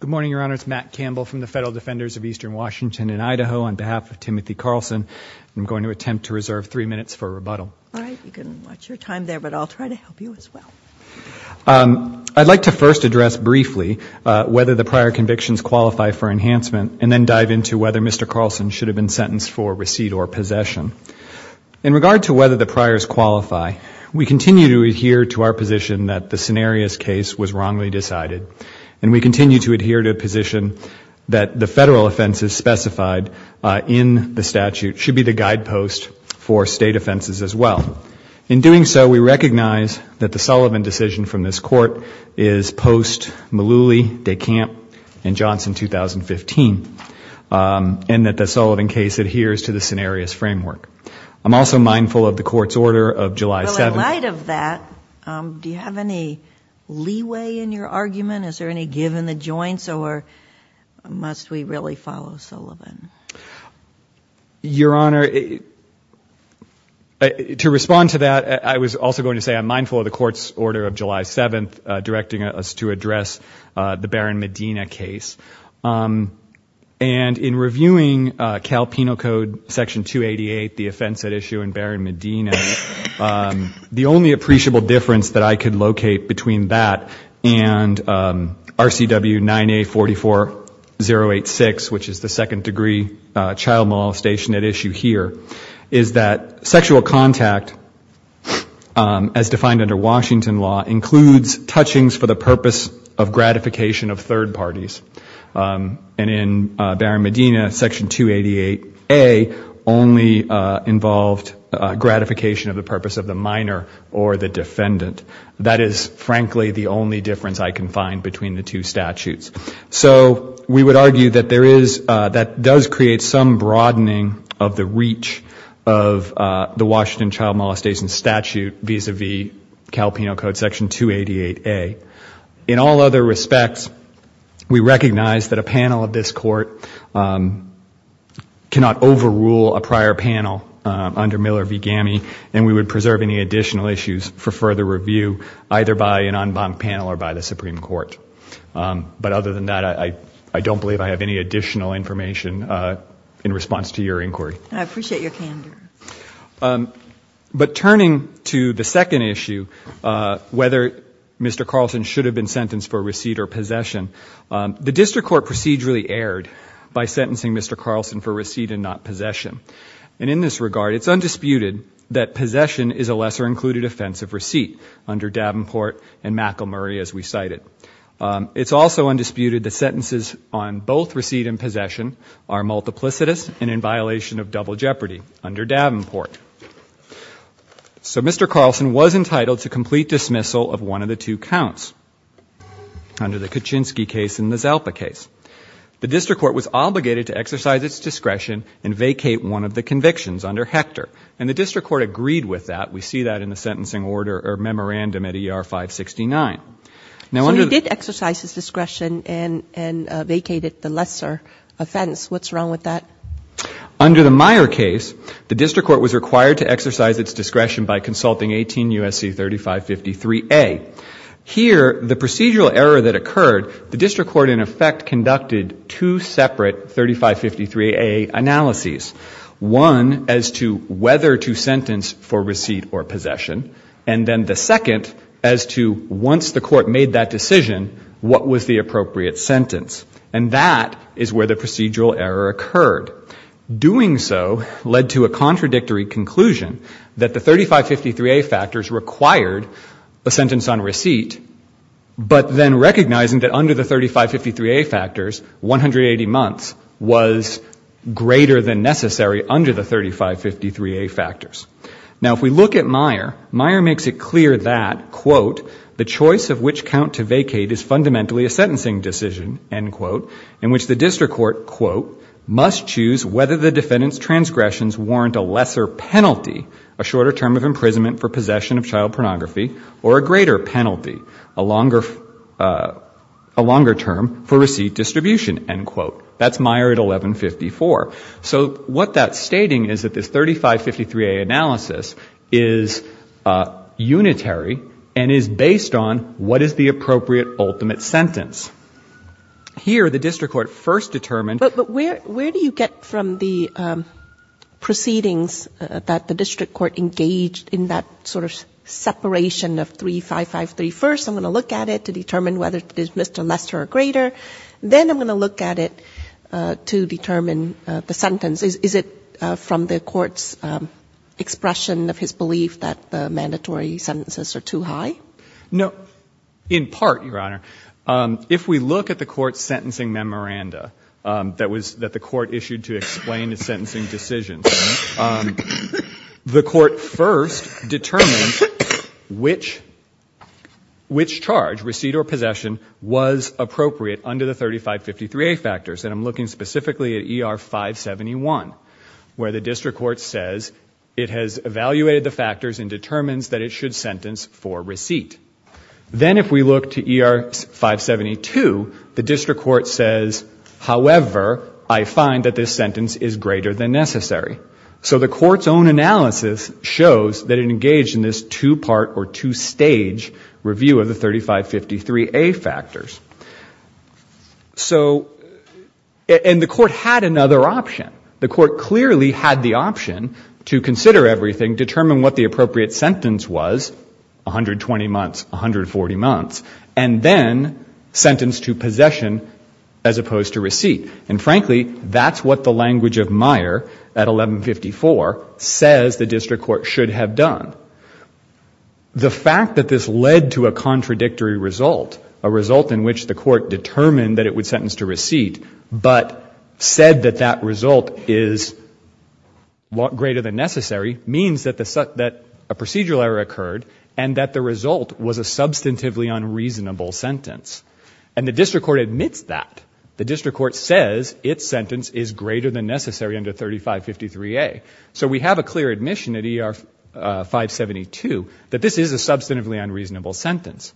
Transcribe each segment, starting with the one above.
Good morning, Your Honor. It's Matt Campbell from the Federal Defenders of Eastern Washington and Idaho. On behalf of Timothy Carlson, I'm going to attempt to reserve three minutes for rebuttal. All right. You can watch your time there, but I'll try to help you as well. I'd like to first address briefly whether the prior convictions qualify for enhancement and then dive into whether Mr. Carlson should have been sentenced for receipt or possession. In regard to whether the priors qualify, we continue to adhere to our position that the continue to adhere to a position that the federal offenses specified in the statute should be the guidepost for state offenses as well. In doing so, we recognize that the Sullivan decision from this Court is post-Mullooly, DeCamp, and Johnson 2015, and that the Sullivan case adheres to the scenarios framework. I'm also mindful of the Court's order of July 7th. Well, in light of that, do you have any leeway in your argument? Is there any give in the joints, or must we really follow Sullivan? Your Honor, to respond to that, I was also going to say I'm mindful of the Court's order of July 7th directing us to address the Barron-Medina case. In reviewing Cal Penal Code Section 288, the offense at issue in Barron-Medina, the only difference between RCW 9A 44086, which is the second-degree child molestation at issue here, is that sexual contact, as defined under Washington law, includes touchings for the purpose of gratification of third parties. And in Barron-Medina, Section 288A only involved gratification of the purpose of the minor or the defendant. That is, frankly, the only difference I can find between the two statutes. So we would argue that there is, that does create some broadening of the reach of the Washington child molestation statute vis-a-vis Cal Penal Code Section 288A. In all other respects, we recognize that a panel of this Court cannot overrule a prior panel, under Miller v. Gammey, and we would preserve any additional issues for further review either by an en banc panel or by the Supreme Court. But other than that, I don't believe I have any additional information in response to your inquiry. I appreciate your candor. But turning to the second issue, whether Mr. Carlson should have been sentenced for receipt or possession, the district court procedurally erred by sentencing Mr. Carlson for receipt and not possession. And in this regard, it's undisputed that possession is a lesser included offense of receipt under Davenport and McElmurry, as we cited. It's also undisputed that sentences on both receipt and possession are multiplicitous and in violation of double jeopardy under Davenport. So Mr. Carlson was entitled to complete dismissal of one of the two counts under the Kaczynski case and the Zalpa case. The district court was obligated to exercise its discretion and vacate one of the convictions under Hector. And the district court agreed with that. We see that in the sentencing order or memorandum at ER 569. Now, under the — So he did exercise his discretion and vacated the lesser offense. What's wrong with that? Under the Meyer case, the district court was required to exercise its discretion by consulting 18 U.S.C. 3553A. Here, the procedural error that occurred, the district court in effect conducted two separate 3553A analyses, one as to whether to sentence for receipt or possession, and then the second as to once the court made that decision, what was the appropriate sentence. And that is where the procedural error occurred. Doing so led to a contradictory conclusion that the 3553A factors required a sentence on receipt, but then recognizing that under the 3553A factors, 180 months was greater than necessary under the 3553A factors. Now if we look at Meyer, Meyer makes it clear that, quote, the choice of which count to vacate is fundamentally a sentencing decision, end quote, in which the district court, quote, must choose whether the defendant's transgressions warrant a lesser penalty, a shorter term of imprisonment for possession of child pornography, or a greater penalty, a longer — a longer term for receipt distribution, end quote. That's Meyer at 1154. So what that's stating is that this 3553A analysis is unitary and is based on what is the appropriate ultimate sentence. Here, the district court first determined — But where do you get from the proceedings that the district court engaged in that sort of separation of 3553? First, I'm going to look at it to determine whether it is Mr. Lesser or greater. Then I'm going to look at it to determine the sentence. Is it from the court's expression of his belief that the mandatory sentences are too high? No. In part, Your Honor. If we look at the court's sentencing memoranda that was — that the court issued to explain the sentencing decisions, the court first determined which — which charge, receipt or possession, was appropriate under the 3553A factors. And I'm looking specifically at ER 571, where the district court says it has evaluated the factors and determines that it should sentence for receipt. Then if we look to ER 572, the district court says, however, I find that this sentence is greater than necessary. So the court's own analysis shows that it engaged in this two-part or two-stage review of the 3553A factors. And the court had another option. The court clearly had the option to consider everything, determine what the appropriate sentence was, 120 months, 140 months, and then sentence to possession as opposed to receipt. And frankly, that's what the language of Meyer at 1154 says the district court should have done. The fact that this led to a contradictory result, a result in which the court determined that it would sentence to receipt, but said that that result is greater than necessary, means that a procedural error occurred and that the result was a substantively unreasonable sentence. And the district court admits that. The district court says its sentence is greater than necessary under 3553A. So we have a clear admission at ER 572 that this is a substantively unreasonable sentence.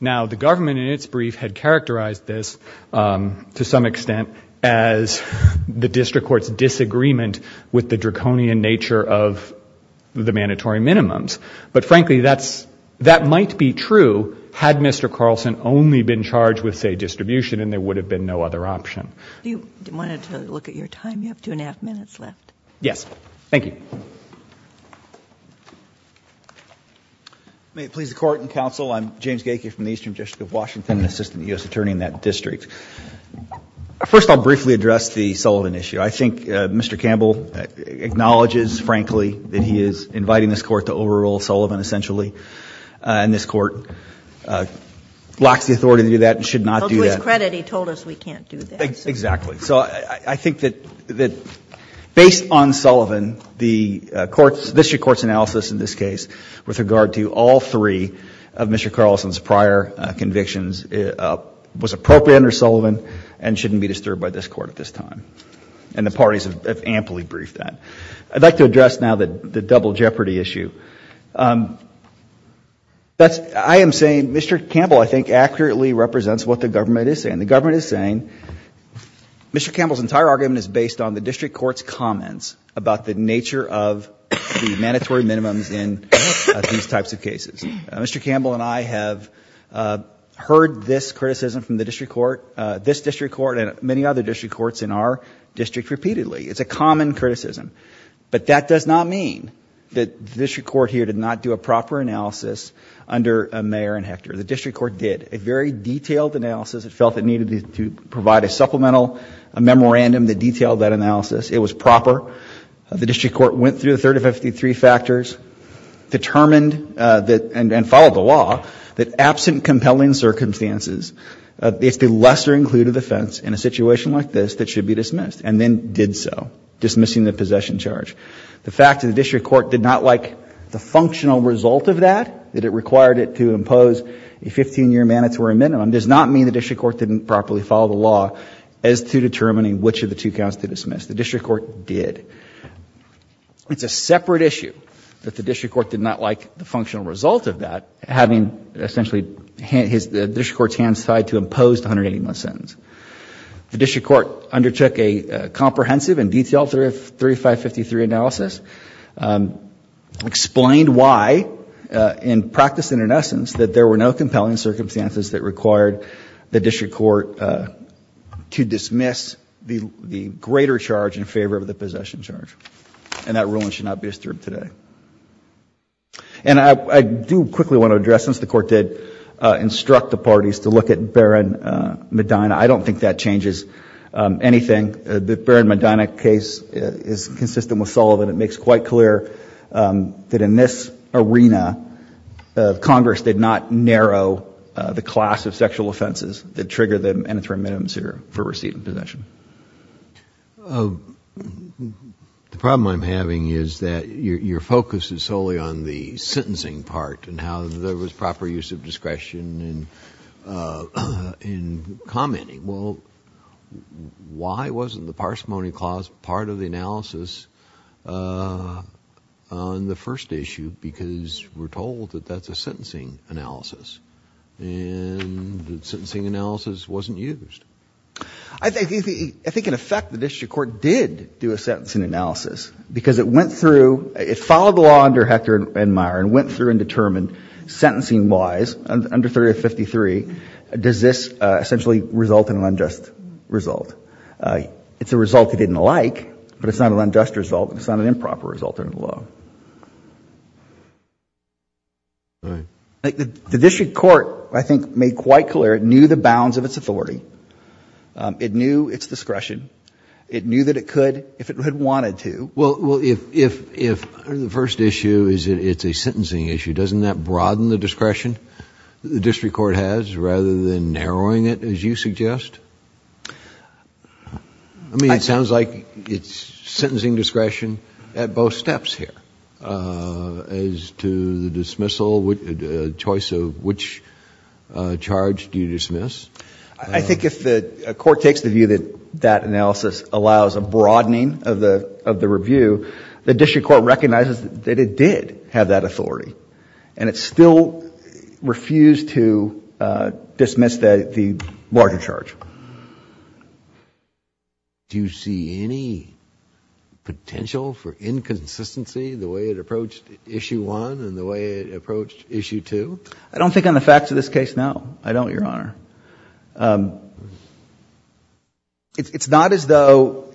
Now, the government in its brief had characterized this to some extent as the district court's disagreement with the draconian nature of the mandatory minimums. But frankly, that's, that might be true had Mr. Carlson only been charged with, say, distribution and there would have been no other option. Do you want to look at your time? You have two and a half minutes left. Yes. Thank you. May it please the court and counsel, I'm James Gaike from the Eastern District of Washington, an assistant U.S. attorney in that district. First, I'll briefly address the Sullivan issue. I think Mr. Campbell acknowledges, frankly, that he is inviting this court to overrule Sullivan, essentially, and this court locks the authority to do that and should not do that. Well, to his credit, he told us we can't do that. Exactly. So I think that based on Sullivan, the district court's analysis in this case with regard to all three of Mr. Carlson's prior convictions was appropriate under Sullivan and shouldn't be disturbed by this court at this time. And the parties have amply briefed that. I'd like to address now the double jeopardy issue. I am saying Mr. Campbell, I think, accurately represents what the government is saying. The government is saying Mr. Campbell's entire argument is based on the district court's comments about the nature of the mandatory minimums in these types of cases. Mr. Campbell and I have heard this criticism from the district court, this district court, and many other district courts in our district repeatedly. It's a common criticism. But that does not mean that the district court here did not do a proper analysis under Mayer and Hector. The district court did a very detailed analysis. It felt it needed to provide a supplemental memorandum that detailed that analysis. It was proper. The district court went through the 3053 factors, determined and followed the law that absent or included offense in a situation like this that should be dismissed, and then did so, dismissing the possession charge. The fact that the district court did not like the functional result of that, that it required it to impose a 15-year mandatory minimum, does not mean the district court didn't properly follow the law as to determining which of the two counts to dismiss. The district court did. It's a separate issue that the district court did not like the functional result of that having essentially the district court's hands tied to impose the 180-month sentence. The district court undertook a comprehensive and detailed 3053 analysis, explained why in practice and in essence that there were no compelling circumstances that required the district court to dismiss the greater charge in favor of the possession charge. And that ruling should not be disturbed today. And I do quickly want to address, since the court did instruct the parties to look at Barron-Medina, I don't think that changes anything. The Barron-Medina case is consistent with Sullivan. It makes quite clear that in this arena, Congress did not narrow the class of sexual offenses that trigger the mandatory minimum for receipt and possession. The problem I'm having is that your focus is solely on the sentencing part and how there was proper use of discretion in commenting. Well, why wasn't the parsimony clause part of the analysis on the first issue? Because we're told that that's a sentencing analysis. And the sentencing analysis wasn't used. I think in effect the district court did do a sentencing analysis because it went through, it followed the law under Hector and Meyer and went through and determined sentencing-wise under 3053, does this essentially result in an unjust result? It's a result it didn't like, but it's not an unjust result. It's not an improper result under the law. The district court, I think, made quite clear it knew the bounds of its authority. It knew its discretion. It knew that it could, if it had wanted to. Well, if the first issue is it's a sentencing issue, doesn't that broaden the discretion the district court has rather than narrowing it, as you suggest? I mean, it sounds like it's sentencing discretion at both steps here as to the dismissal, choice of which charge do you dismiss. I think if the court takes the view that that analysis allows a broadening of the review, the district court recognizes that it did have that authority. And it still refused to dismiss the larger charge. Do you see any potential for inconsistency the way it approached issue 1 and the way it approached issue 2? I don't think on the facts of this case, no. I don't, Your Honor. It's not as though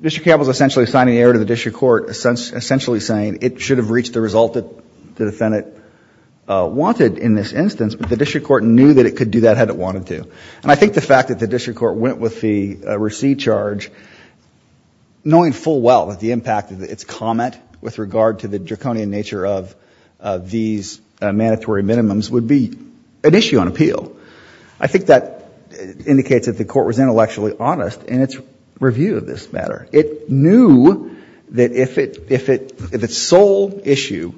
district court was essentially assigning error to the district court, essentially saying it should have reached the result that the defendant wanted in this instance, but the district court knew that it could do that had it wanted to. And I think the fact that the district court went with the receipt charge, knowing full well that the impact of its comment with regard to the draconian nature of these mandatory minimums would be an issue on appeal. I think that indicates that the court was intellectually honest in its review of this matter. It knew that if its sole issue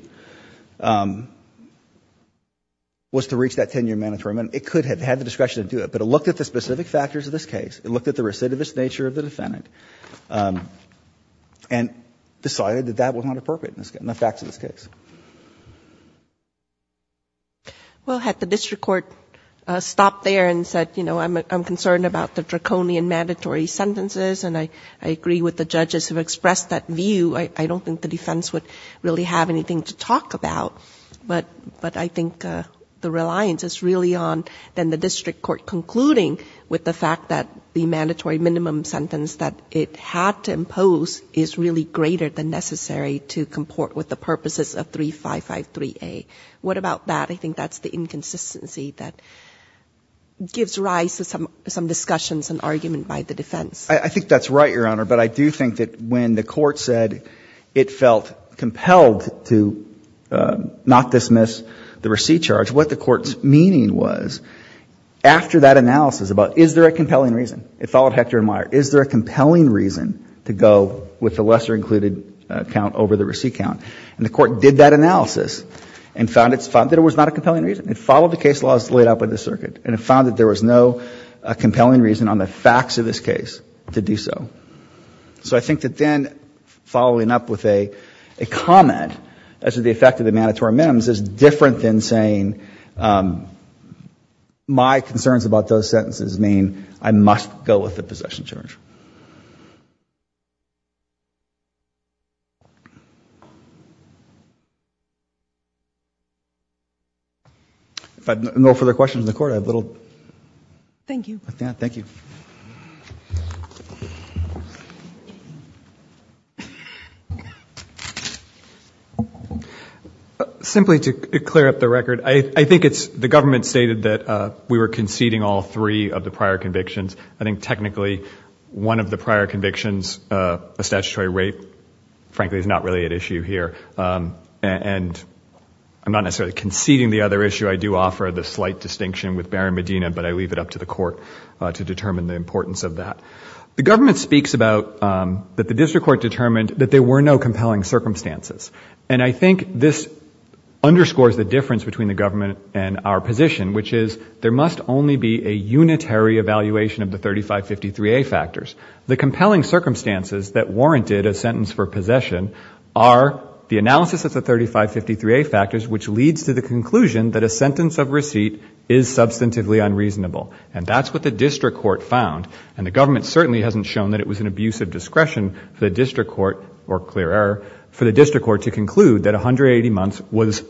was to reach that 10-year mandatory minimum, it could have had the discretion to do it. But it looked at the specific factors of this case. It looked at the recidivist nature of the defendant and decided that that was not appropriate in the facts of this case. Well, had the district court stopped there and said, you know, I'm concerned about the draconian mandatory sentences and I agree with the judges who expressed that view, I don't think the defense would really have anything to talk about. But I think the reliance is really on the district court concluding with the fact that the mandatory minimum sentence that it had to impose is really greater than what is necessary to comport with the purposes of 3553A. What about that? I think that's the inconsistency that gives rise to some discussions and argument by the defense. I think that's right, Your Honor. But I do think that when the court said it felt compelled to not dismiss the receipt charge, what the court's meaning was after that analysis about is there a compelling reason? It followed Hector and Meyer. Is there a compelling reason to go with the lesser included count over the receipt count? And the court did that analysis and found that it was not a compelling reason. It followed the case laws laid out by the circuit and it found that there was no compelling reason on the facts of this case to do so. So I think that then following up with a comment as to the effect of the mandatory minimums is different than saying my concerns about those sentences mean I must go with the possession charge. If there are no further questions in the court, I have a little. Thank you. Thank you. Simply to clear up the record, I think it's the government stated that we were conceding all three of the prior convictions. I think technically one of the prior convictions, a statutory rape, frankly is not really at issue here. And I'm not necessarily conceding the other issue. I do offer the slight distinction with Barry Medina, but I leave it up to the court to determine. The government speaks about that the district court determined that there were no compelling circumstances. And I think this underscores the difference between the government and our position, which is there must only be a unitary evaluation of the 3553A factors. The compelling circumstances that warranted a sentence for possession are the analysis of the 3553A factors, which leads to the conclusion that a sentence of receipt is substantively unreasonable. And that's what the district court found. And the government certainly hasn't shown that it was an abuse of discretion for the district court, or clear error, for the district court to conclude that 180 months was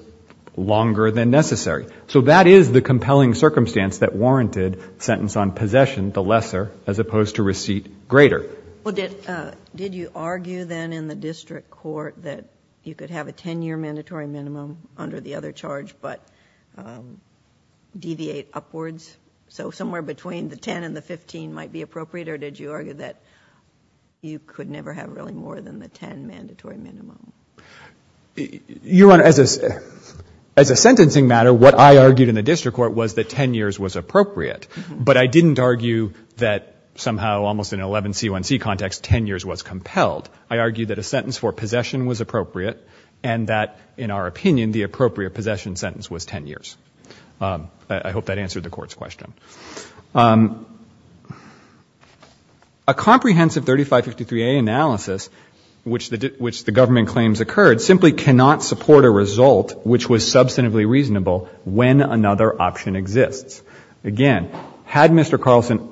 longer than necessary. So that is the compelling circumstance that warranted sentence on possession, the lesser, as opposed to receipt greater. Well, did you argue then in the district court that you could have a 10-year mandatory minimum under the other charge, but deviate upwards? So somewhere between the 10 and the 15 might be appropriate? Or did you argue that you could never have really more than the 10 mandatory minimum? Your Honor, as a sentencing matter, what I argued in the district court was that 10 years was appropriate. But I didn't argue that somehow almost in an 11C1C context, 10 years was compelled. I argued that a sentence for possession was appropriate and that, in our opinion, the appropriate possession sentence was 10 years. I hope that answered the Court's question. A comprehensive 3553A analysis, which the government claims occurred, simply cannot support a result which was substantively reasonable when another option exists. Again, had Mr. Carlson,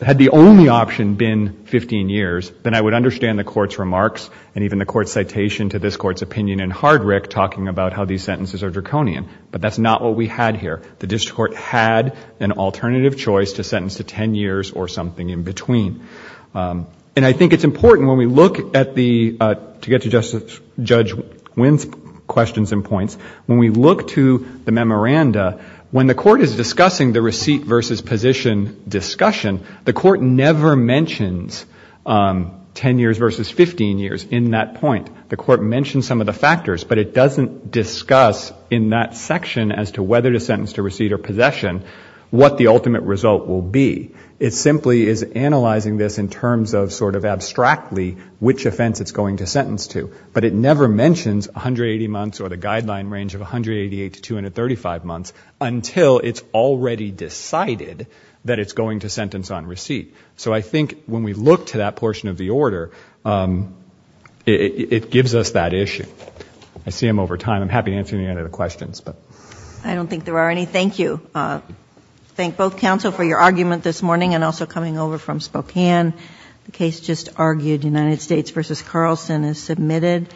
had the only option been 15 years, then I would understand the Court's remarks and even the Court's citation to this Court's opinion in Hardrick talking about how these sentences are draconian. But that's not what we had here. The district court had an alternative choice to sentence to 10 years or something in between. And I think it's important when we look at the, to get to Judge Winn's questions and points, when we look to the memoranda, when the Court is discussing the receipt versus position discussion, the Court never mentions 10 years versus 15 years in that point. The Court mentions some of the factors, but it doesn't discuss in that section as to whether to sentence to receipt or possession what the ultimate result will be. It simply is analyzing this in terms of sort of abstractly which offense it's going to sentence to. But it never mentions 180 months or the guideline range of 188 to 235 months until it's already decided that it's going to sentence on receipt. So I think when we look to that portion of the order, it gives us that issue. I see I'm over time. I'm happy to answer any other questions. I don't think there are any. Thank you. Thank both counsel for your argument this morning and also coming over from Spokane. The case just argued, United States v. Carlson is submitted.